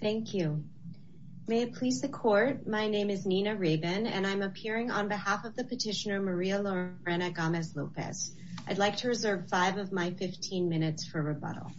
Thank you. May it please the court. My name is Nina Rabin and I'm appearing on behalf of the petitioner Maria Lorena Gomez Lopez. I'd like to reserve five of my 15 minutes for rebuttal.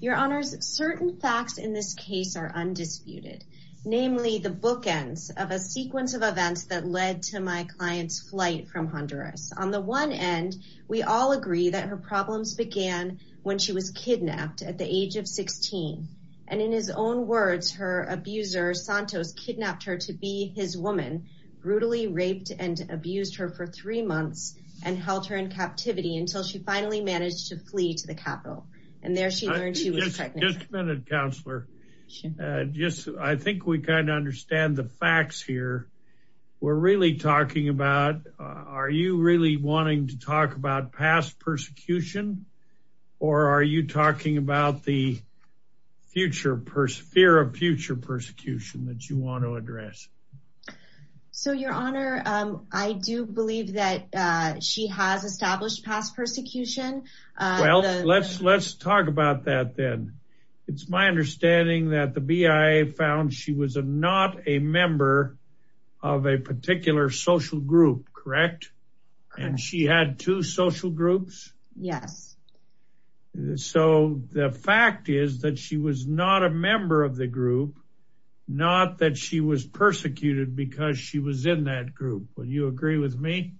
Your honors certain facts in this case are undisputed, namely the bookends of a sequence of events that led to my client's flight from Honduras. On the one end, we all agree that her problems began when she was kidnapped at the age of 16 And in his own words, her abuser Santos kidnapped her to be his woman, brutally raped and abused her for three months and held her in captivity until she finally managed to flee to the capital. And there she learned she was pregnant. Just a minute, counselor. Just I think we kind of understand the facts here. We're really talking about. Are you really wanting to talk about past persecution? Or are you talking about the future fear of future persecution that you want to address? So your honor, I do believe that she has established past persecution. Well, let's let's talk about that then. It's my understanding that the BIA found she was a not a member of a particular social group. Correct. And she had two social groups. Yes. So the fact is that she was not a member of the group, not that she was persecuted because she was in that group. Would you agree with me?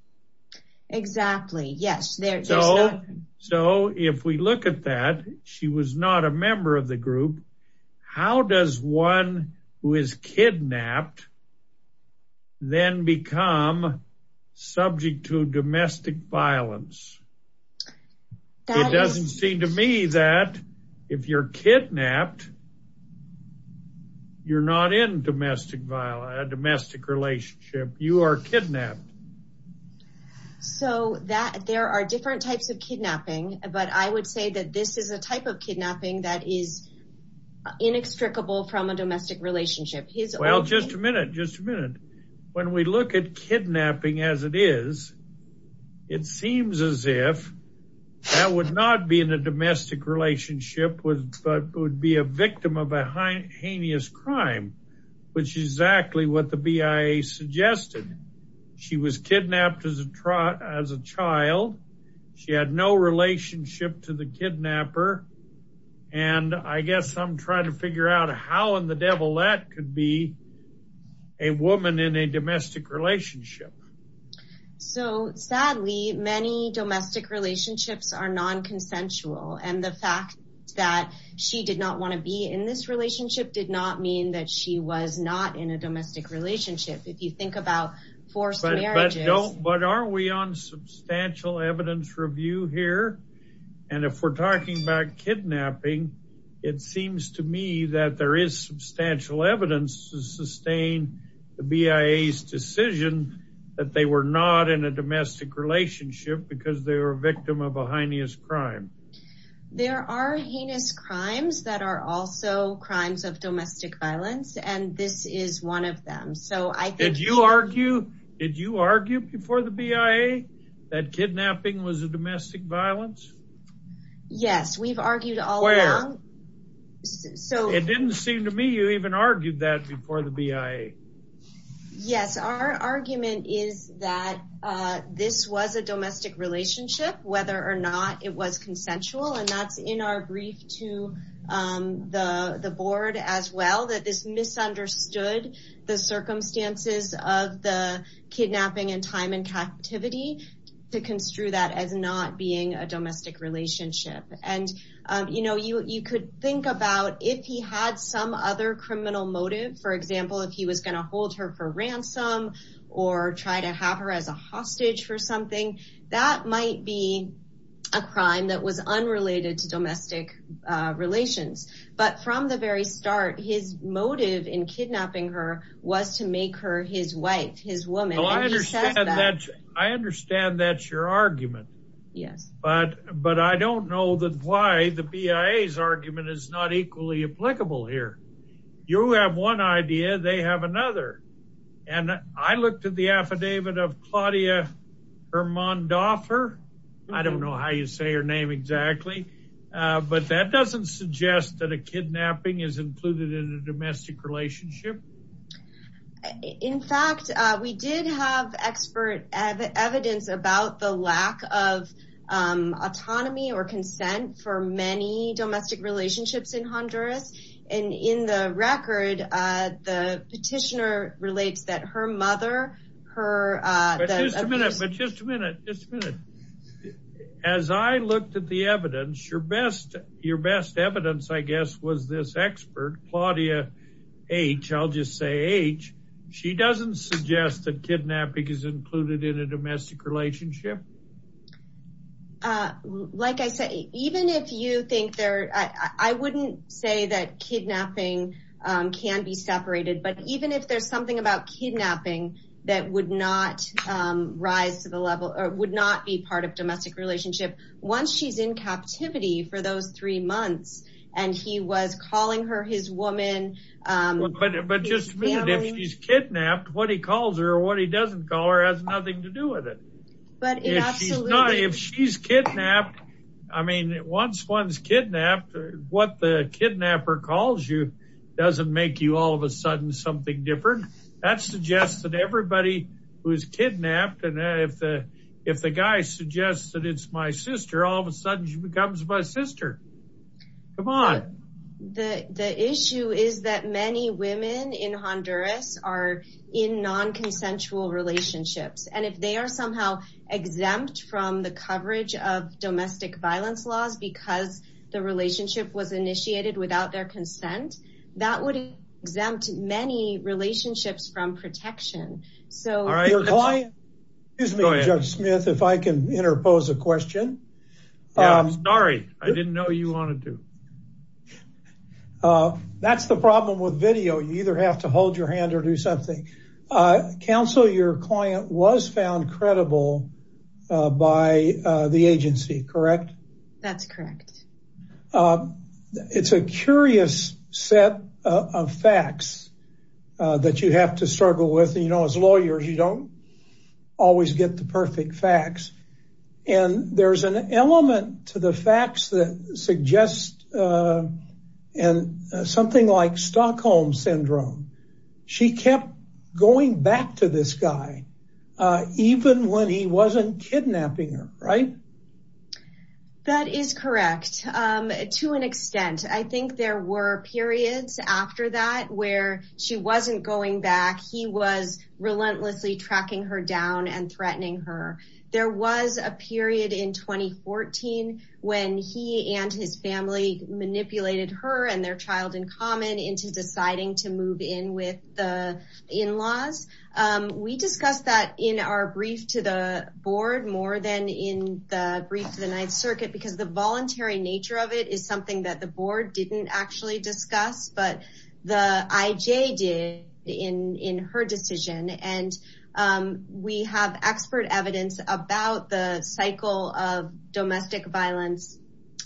Exactly. Yes. So. So if we look at that, she was not a member of the group. How does one who is kidnapped? Then become subject to domestic violence. It doesn't seem to me that if you're kidnapped. You're not in domestic violence, domestic relationship, you are kidnapped. So that there are different types of kidnapping, but I would say that this is a type of kidnapping that is inextricable from a domestic relationship. Well, just a minute, just a minute. When we look at kidnapping as it is. It seems as if that would not be in a domestic relationship with that would be a victim of a heinous crime, which is exactly what the BIA suggested. She was kidnapped as a child. She had no relationship to the kidnapper. And I guess I'm trying to figure out how in the devil that could be a woman in a domestic relationship. So sadly, many domestic relationships are non consensual. And the fact that she did not want to be in this relationship did not mean that she was not in a domestic relationship. If you think But are we on substantial evidence review here? And if we're talking about kidnapping, it seems to me that there is substantial evidence to sustain the BIA's decision that they were not in a domestic relationship because they were a victim of a heinous crime. There are heinous crimes that are also crimes of domestic violence. And this is one of them. So I think you argue. Did you argue before the BIA that kidnapping was a domestic violence? Yes, we've argued all around. So it didn't seem to me you even argued that before the BIA. Yes, our argument is that this was a domestic relationship, whether or not it was consensual. And that's in our brief to the board as well, that this misunderstood the circumstances of the kidnapping and time and captivity to construe that as not being a domestic relationship. And, you know, you could think about if he had some other criminal motive, for example, if he was going to hold her for ransom or try to have her as a hostage for something, that might be a crime that was unrelated to domestic relations. But from the very start, his motive in kidnapping her was to make her his wife, his woman. I understand that's your argument. Yes. But I don't know why the BIA's argument is not equally applicable here. You have one idea, they have another. And I looked at the affidavit of Hermann Doffer. I don't know how you say her name exactly. But that doesn't suggest that a kidnapping is included in a domestic relationship. In fact, we did have expert evidence about the lack of autonomy or consent for many domestic relationships in Honduras. And in the record, the petitioner relates that her mother, her. But just a minute, but just a minute, just a minute. As I looked at the evidence, your best, your best evidence, I guess, was this expert, Claudia H., I'll just say H. She doesn't suggest that kidnapping is included in a domestic relationship. Like I say, even if you think there I wouldn't say that kidnapping can be separated. But even if there's something about rise to the level or would not be part of domestic relationship, once she's in captivity for those three months and he was calling her his woman. But just a minute, if she's kidnapped, what he calls her or what he doesn't call her has nothing to do with it. But if she's kidnapped, I mean, once one's kidnapped, what the kidnapper calls you doesn't make you all of a sudden something different. That suggests that everybody who's kidnapped and if the guy suggests that it's my sister, all of a sudden she becomes my sister. Come on. The issue is that many women in Honduras are in non-consensual relationships. And if they are somehow exempt from the coverage of domestic violence laws because the relationship was right. Excuse me, Judge Smith, if I can interpose a question. I'm sorry. I didn't know you wanted to. That's the problem with video. You either have to hold your hand or do something. Counsel, your client was found credible by the agency, correct? That's correct. It's a curious set of facts that you have to struggle with. You know, as lawyers, you don't always get the perfect facts. And there's an element to the facts that suggest something like Stockholm syndrome. She kept going back to this guy, even when he wasn't kidnapping her, right? That is correct. To an extent. I think there were periods after that where she wasn't going back. He was relentlessly tracking her down and threatening her. There was a period in 2014 when he and his family manipulated her and their child into deciding to move in with the in-laws. We discussed that in our brief to the board more than in the brief to the Ninth Circuit, because the voluntary nature of it is something that the board didn't actually discuss, but the IJ did in her decision. And we have expert evidence about the cycle of domestic violence,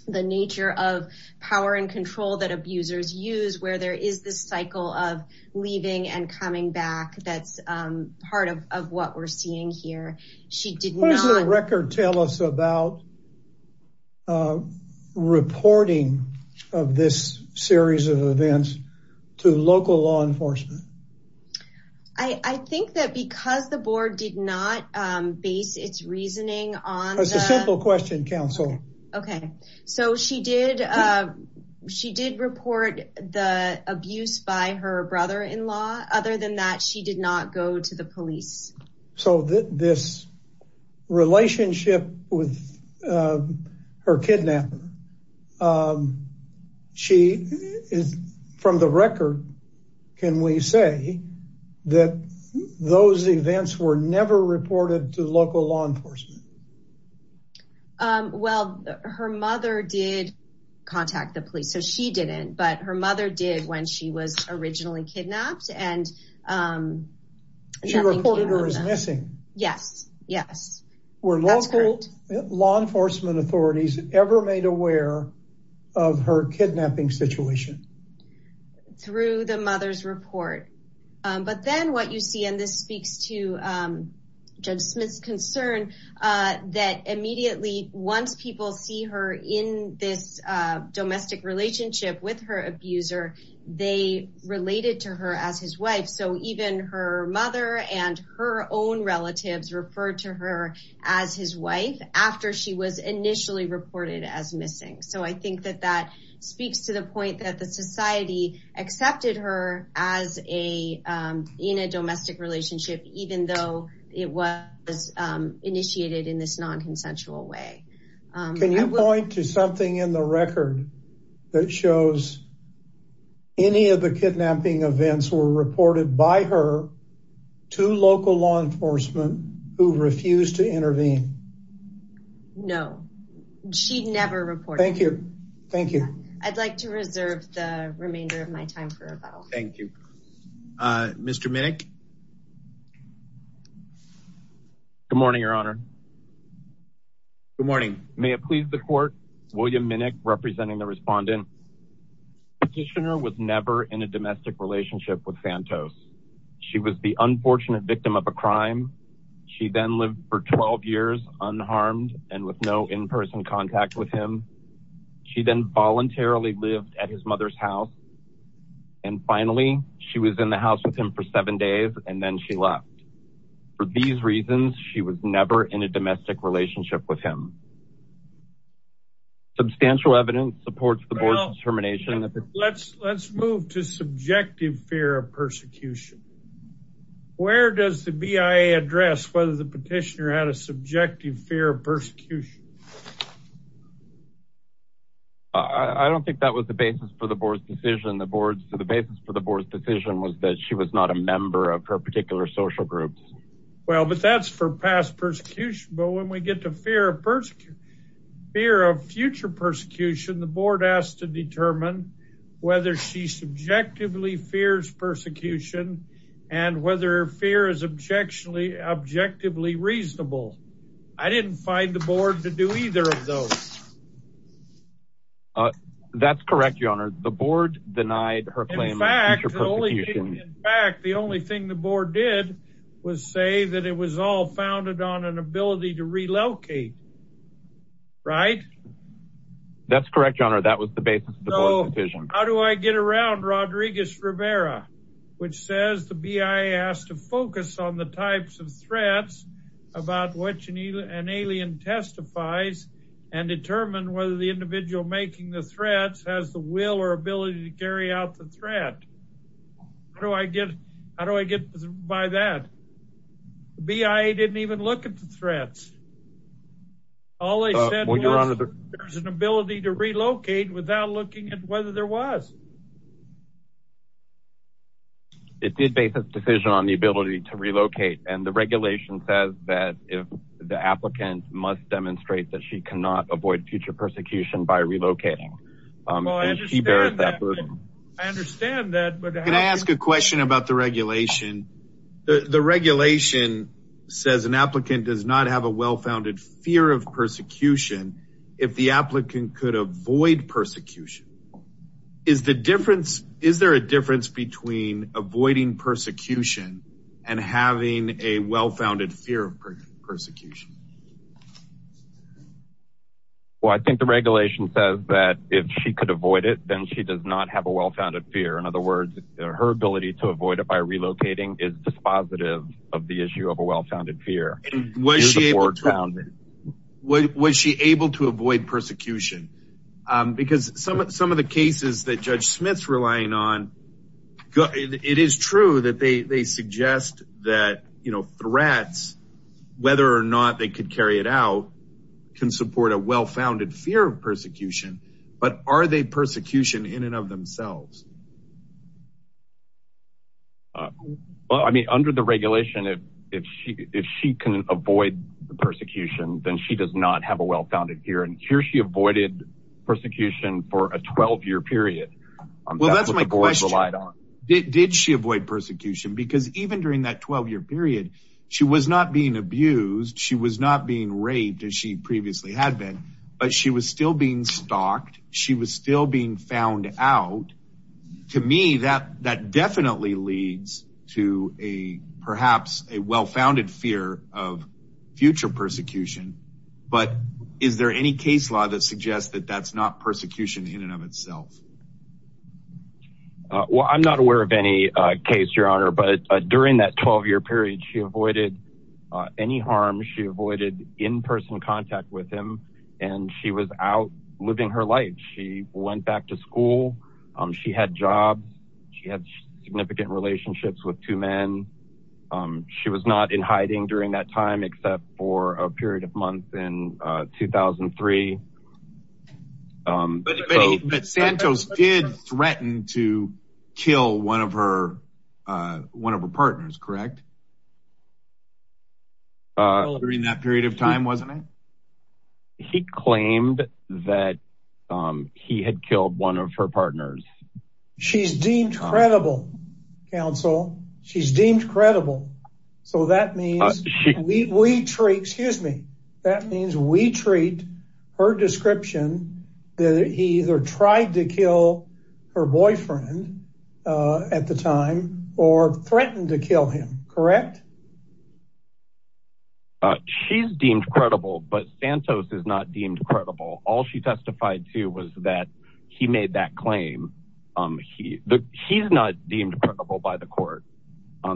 the nature of power and control that abusers use, where there is this cycle of leaving and coming back. That's part of what we're seeing here. What does the record tell us about reporting of this series of events to local law enforcement? I think that because the board did not base its reasoning on... It's a simple question, counsel. Okay. So she did report the abuse by her brother-in-law. Other than that, she did not go to the police. So this relationship with her kidnapper, from the record, can we say that those events were never reported to local law enforcement? Well, her mother did contact the police, so she didn't, but her mother did when she was missing. Yes. Yes. Were local law enforcement authorities ever made aware of her kidnapping situation? Through the mother's report. But then what you see, and this speaks to Judge Smith's concern, that immediately once people see her in this domestic relationship with her abuser, they related to her as his wife. So even her mother and her own relatives referred to her as his wife after she was initially reported as missing. So I think that that speaks to the point that the society accepted her in a domestic relationship, even though it was initiated in this non-consensual way. Can you point to something in the record that shows any of the kidnapping events were reported by her to local law enforcement who refused to intervene? No. She never reported. Thank you. Thank you. I'd like to reserve the remainder of my time for rebuttal. Thank you. Mr. Minnick? Good morning, Your Honor. Good morning. May it please the court, William Minnick representing the respondent. Petitioner was never in a domestic relationship with Santos. She was the unfortunate victim of a crime. She then lived for 12 years unharmed and with no in-person contact with him. She then voluntarily lived at his mother's house. And finally, she was in the house with him for seven days and then she left. For these reasons, she was never in a domestic relationship with him. Substantial evidence supports the board's determination that the... Let's move to subjective fear of persecution. Where does the BIA address whether the petitioner had a subjective fear of persecution? I don't think that was the basis for the board's decision. The board's... The basis for the board's decision was that she was not a member of her particular social group. Well, but that's for past persecution. But when we get to fear of future persecution, the board has to determine whether she subjectively fears persecution and whether fear is objectively reasonable. I didn't find the board to do either of those. That's correct, Your Honor. The board denied her claim. In fact, the only thing the board did was say that it was all founded on an ability to relocate. Right? That's correct, Your Honor. That was the basis of the board's decision. How do I get around Rodriguez-Rivera, which says the BIA has to focus on the types of threats about which an alien testifies and determine whether the individual making the threats has the will or ability to carry out the threat? How do I get by that? The BIA didn't even look at the threats. All they said was there's an ability to relocate without looking at whether there was. It did base a decision on the ability to relocate. And the regulation says that if the applicant must demonstrate that she cannot avoid future persecution by relocating. I understand that. Can I ask a question about the regulation? The regulation says an applicant does not have a well-founded fear of persecution if the applicant could avoid persecution. Is there a difference between avoiding persecution and having a well-founded fear of persecution? Well, I think the regulation says that if she could avoid it, then she does not have a well-founded fear. In other words, her ability to avoid it by relocating is dispositive of the issue of a well-founded fear. Was she able to avoid persecution? Because some of the cases that Judge Smith's relying on, it is true that they suggest that threats, whether or not they could carry it out, can support a well-founded fear of persecution. But are they persecution in and of themselves? Well, I mean, under the regulation, if she can avoid the persecution, then she does not have a well-founded fear. And here she avoided persecution for a 12-year period. Well, that's my question. Did she avoid persecution? Because even during that 12-year period, she was not being abused. She was not being raped as she previously had been. But she was still being stalked. She was still being found out. To me, that definitely leads to perhaps a well-founded fear of future persecution. But is there any case law that suggests that that's not persecution in and of itself? Well, I'm not aware of any case, Your Honor. But during that 12-year period, she avoided any harm. She avoided in-person contact with him. And she was out living her life. She went back to school. She had jobs. She had significant relationships with two men. She was not in hiding during that time, except for a period of months in 2003. But Santos did threaten to kill one of her partners, correct? During that period of time, wasn't it? He claimed that he had killed one of her partners. She's deemed credible, counsel. She's deemed credible. So that means we treat her description that he either tried to kill her boyfriend at the time or threatened to kill him, correct? She's deemed credible, but Santos is not deemed credible. All she testified to was that he made that claim. He's not deemed credible by the court.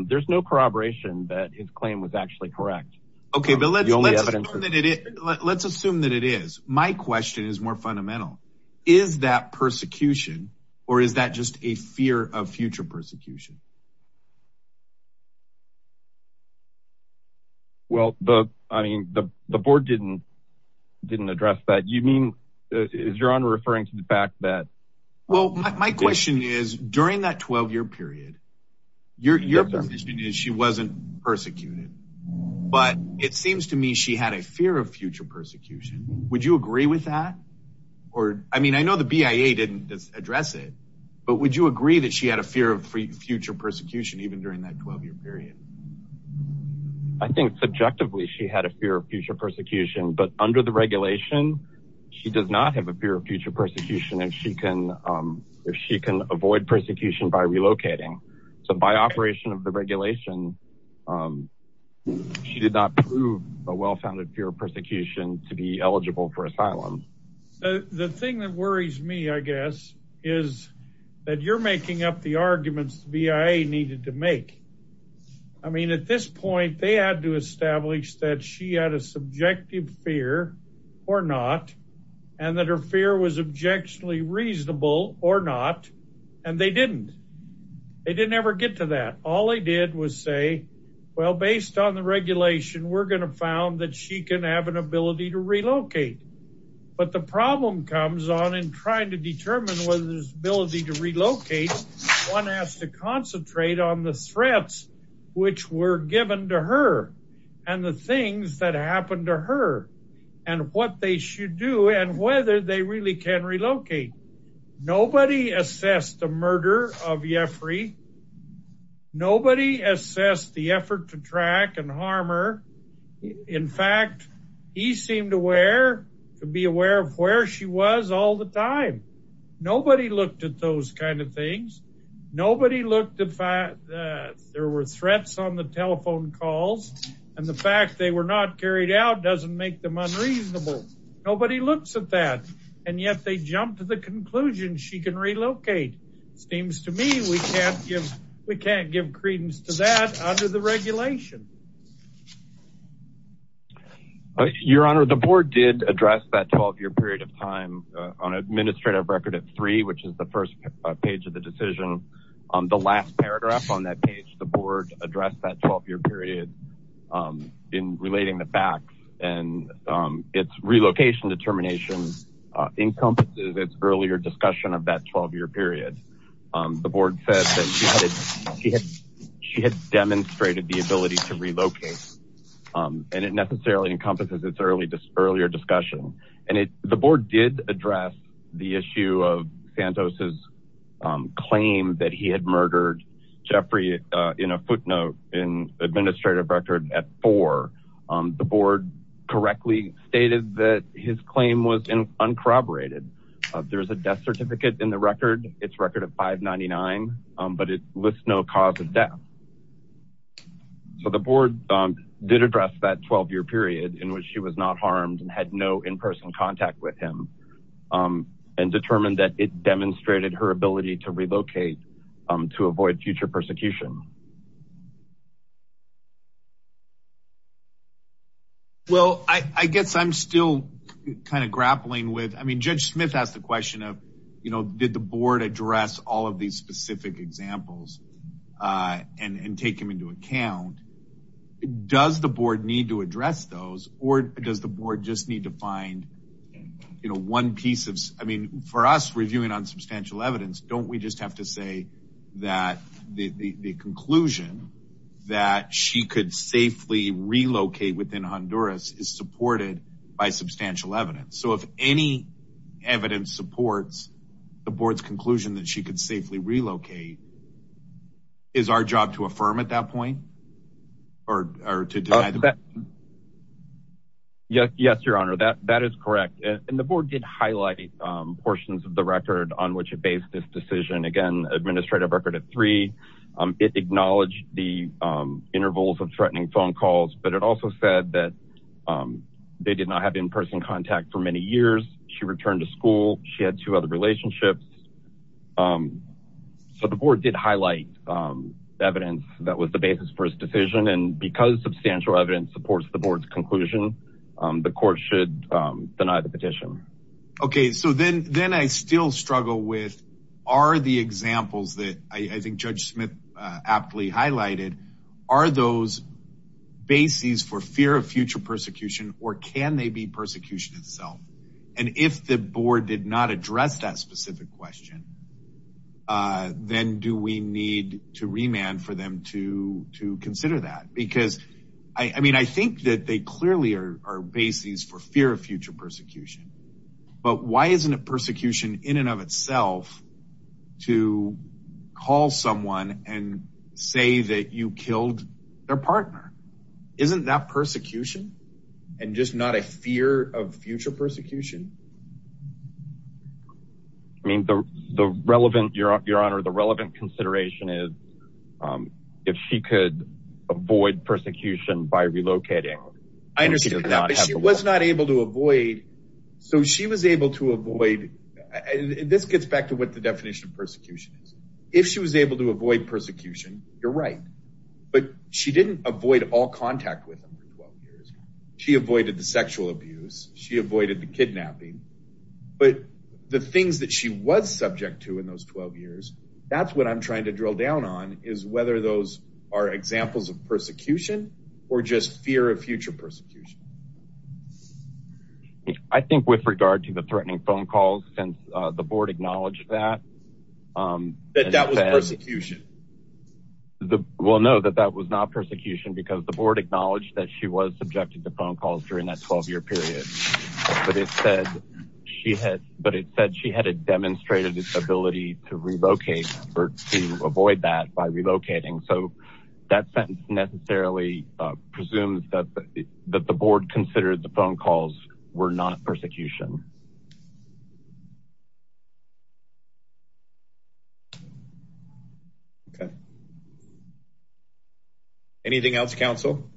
There's no corroboration that his claim was actually correct. Okay, but let's assume that it is. My question is more fundamental. Is that persecution or is that just a fear of future persecution? Well, I mean, the board didn't address that. You mean, is your honor referring to the fact that- Well, my question is during that 12-year period, your position is she wasn't persecuted. But it seems to me she had a fear of future persecution. Would you agree with that? I mean, I know the BIA didn't address it, but would you agree that she had a fear of future persecution even during that 12-year period? I think subjectively she had a fear of future persecution, but under the regulation, she does not have a fear of future persecution if she can avoid persecution by relocating. So by operation of the regulation, she did not prove a well-founded fear of persecution to be is that you're making up the arguments the BIA needed to make. I mean, at this point, they had to establish that she had a subjective fear or not, and that her fear was objectionably reasonable or not, and they didn't. They didn't ever get to that. All they did was say, well, based on the regulation, we're going to found that she can have an ability to relocate. But the problem comes on in trying to determine whether there's ability to relocate, one has to concentrate on the threats which were given to her and the things that happened to her and what they should do and whether they really can relocate. Nobody assessed the murder of Yefri. Nobody assessed the effort to track and harm her. In fact, he seemed to be aware of where she was all the time. Nobody looked at those kind of things. Nobody looked at the fact that there were threats on the telephone calls, and the fact they were not carried out doesn't make them unreasonable. Nobody looks at that. And yet they jumped to the conclusion she can relocate. Seems to me we can't give credence to that under the regulation. Your Honor, the board did address that 12-year period of time on administrative record at three, which is the first page of the decision. On the last paragraph on that page, the board addressed that 12-year period in relating the facts, and its relocation determination encompasses its earlier discussion of that 12-year period. The board said that she had demonstrated the ability to relocate, and it necessarily encompasses its earlier discussion. And the board did address the issue of Santos's claim that he had murdered Yefri in a footnote in administrative record at four. The board correctly stated that his claim was uncorroborated. There's a death certificate in the record. It's record of 599, but it lists no cause of death. So the board did address that 12-year period in which she was not harmed and had no in-person contact with him, and determined that it demonstrated her ability to relocate to avoid future persecution. Well, I guess I'm still kind of grappling with, I mean, Judge Smith asked the question of, you know, did the board address all of these specific examples and take them into account? Does the board need to address those, or does the board just need to find, you know, one piece of, I mean, for us reviewing on substantial evidence, don't we just have to say that the complaint conclusion that she could safely relocate within Honduras is supported by substantial evidence? So if any evidence supports the board's conclusion that she could safely relocate, is our job to affirm at that point, or to deny the claim? Yes, your honor, that is correct. And the board did highlight portions of the record on which it based this decision. Again, administrative record at acknowledge the intervals of threatening phone calls, but it also said that they did not have in-person contact for many years. She returned to school. She had two other relationships. So the board did highlight evidence that was the basis for his decision, and because substantial evidence supports the board's conclusion, the court should deny the petition. Okay, so then I still struggle with, are the examples that I think Judge Smith aptly highlighted, are those bases for fear of future persecution, or can they be persecution itself? And if the board did not address that specific question, then do we need to remand for them to consider that? Because, I mean, I think that they clearly are bases for fear of future persecution, but why isn't it persecution in and of itself to call someone and say that you killed their partner? Isn't that persecution, and just not a fear of future persecution? I mean, the relevant, your honor, the relevant consideration is if she could avoid persecution by relocating. I understand that, but she was not able to avoid, so she was able to avoid, and this gets back to what the definition of persecution is. If she was able to avoid persecution, you're right, but she didn't avoid all contact with him for 12 years. She avoided the sexual abuse. She avoided the kidnapping, but the things that she was subject to in those 12 years, that's what I'm trying to drill down on, is whether those are examples of persecution, or just fear of future persecution. I think with regard to the threatening phone calls, since the board acknowledged that. That that was persecution. Well, no, that that was not persecution because the board acknowledged that she was subjected to phone calls during that 12-year period, but it said she had, but it said she had demonstrated its ability to relocate or to avoid that by relocating, so that sentence necessarily presumes that the board considered the phone calls were not persecution. Okay. Anything else, counsel?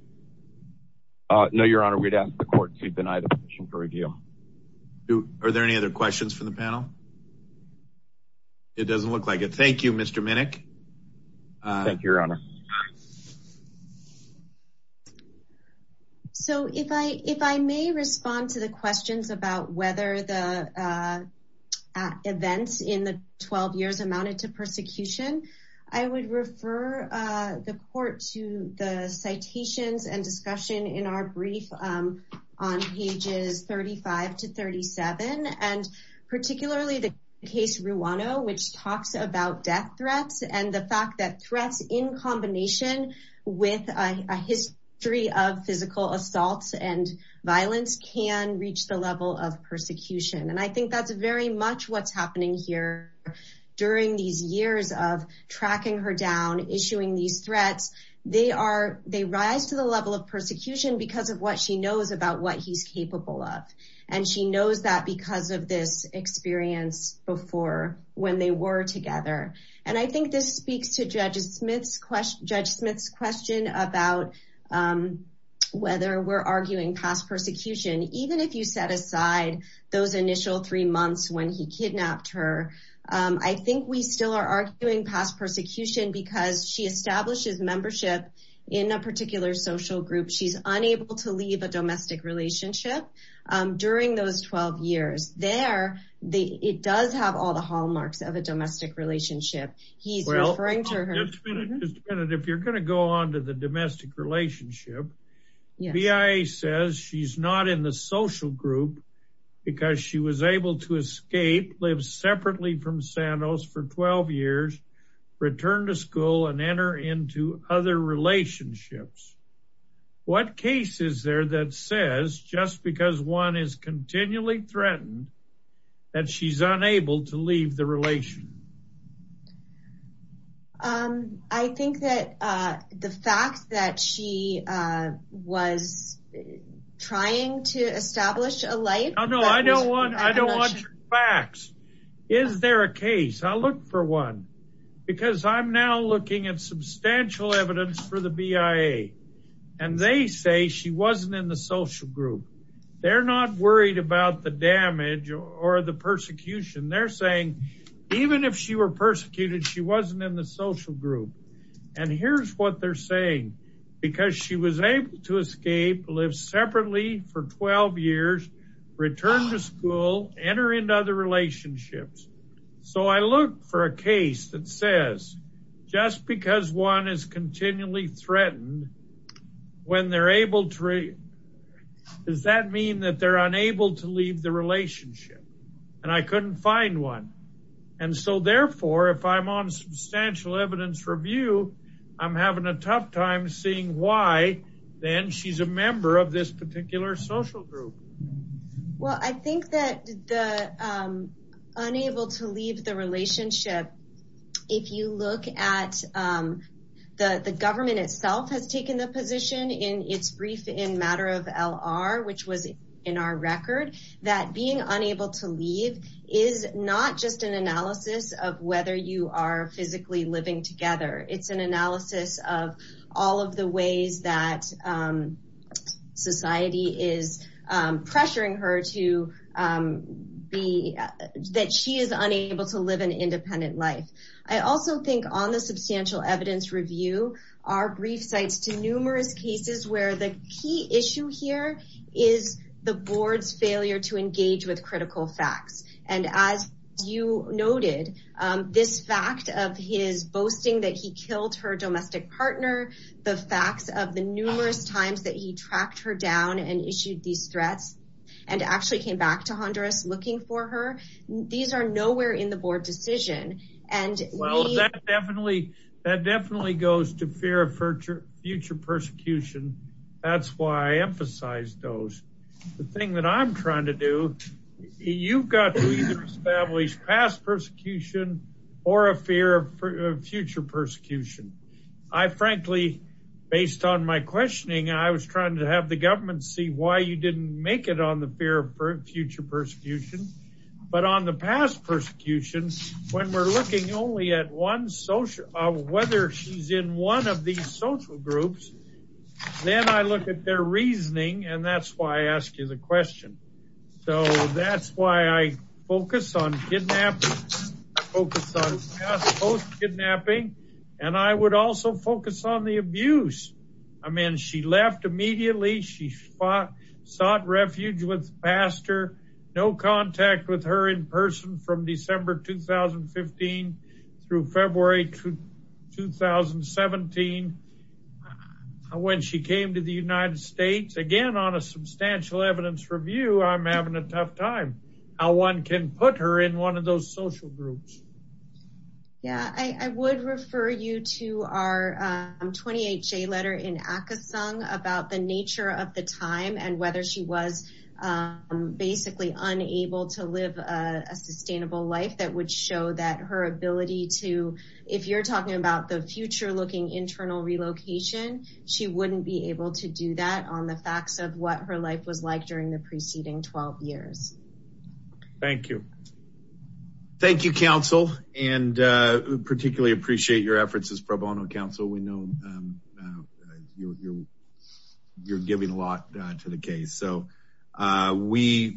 No, your honor, we'd ask the court to deny the position for review. Are there any other questions from the panel? It doesn't look like it. Thank you, Mr. Minnick. Thank you, your honor. So, if I may respond to the questions about whether the events in the 12 years amounted to persecution, I would refer the court to the citations and discussion in our brief on pages 35 to 37, and particularly the case Ruano, which talks about death threats and the fact that threats in combination with a history of physical assaults and violence can reach the level of persecution, and I think that's very much what's happening here during these years of tracking her down, issuing these threats. They are, they rise to the level of persecution because of what she knows about what he's capable of, and she knows that because of this experience before when they were together, and I think this speaks to Judge Smith's question about whether we're arguing past persecution, even if you set aside those initial three months when he kidnapped her. I think we still are arguing past persecution because she establishes membership in a particular social group. She's unable to leave a domestic relationship during those 12 years. There, they, it does have all the hallmarks of a domestic relationship. He's referring to her. If you're going to go on to the domestic relationship, BIA says she's not in the social group because she was able to escape, live separately from Santos for 12 years, return to school, and enter into other relationships. What case is there that says just because one is that she's unable to leave the relation? I think that the fact that she was trying to establish a life. Oh, no, I don't want, I don't want your facts. Is there a case? I'll look for one because I'm now looking at substantial evidence for the BIA, and they say she wasn't in the or the persecution. They're saying even if she were persecuted, she wasn't in the social group. And here's what they're saying because she was able to escape, live separately for 12 years, return to school, enter into other relationships. So I look for a case that says just because one is continually threatened when they're able to, does that mean that they're unable to leave the relationship? And I couldn't find one. And so therefore, if I'm on substantial evidence review, I'm having a tough time seeing why then she's a member of this particular social group. Well, I think that the unable to leave the relationship, if you look at the government itself has taken the position in its brief in matter of LR, which was in our record, that being unable to leave is not just an analysis of whether you are physically living together. It's an analysis of all of the ways that society is pressuring her to be that she is unable to live an independent life. I also think on the substantial evidence review, our brief sites to numerous cases where the key issue here is the board's failure to engage with critical facts. And as you noted, this fact of his boasting that he killed her domestic partner, the facts of the numerous times that he tracked her down and issued these threats and actually came back to Honduras looking for her. These are nowhere in the board decision. And well, that definitely that definitely goes to future persecution. That's why I emphasize those. The thing that I'm trying to do, you've got to establish past persecution or a fear of future persecution. I frankly, based on my questioning, I was trying to have the government see why you didn't make it on the fear of future persecution. But on the past persecution, when we're looking only at one social, whether she's in one of these social groups, then I look at their reasoning. And that's why I ask you the question. So that's why I focus on kidnapping, focus on kidnapping. And I would also focus on the abuse. I mean, she left immediately. She fought, sought refuge with no contact with her in person from December 2015, through February 2017. When she came to the United States, again, on a substantial evidence review, I'm having a tough time. How one can put her in one of those social groups. Yeah, I would refer you to our 28 J letter in Akasung about the nature of the time and whether she was basically unable to live a sustainable life that would show that her ability to, if you're talking about the future looking internal relocation, she wouldn't be able to do that on the facts of what her life was like during the preceding 12 years. Thank you. Thank you, counsel. And particularly appreciate your efforts as pro bono counsel. We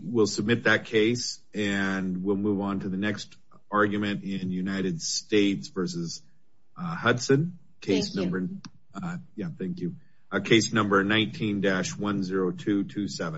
will submit that case and we'll move on to the next argument in United States versus Hudson case number 19-10227.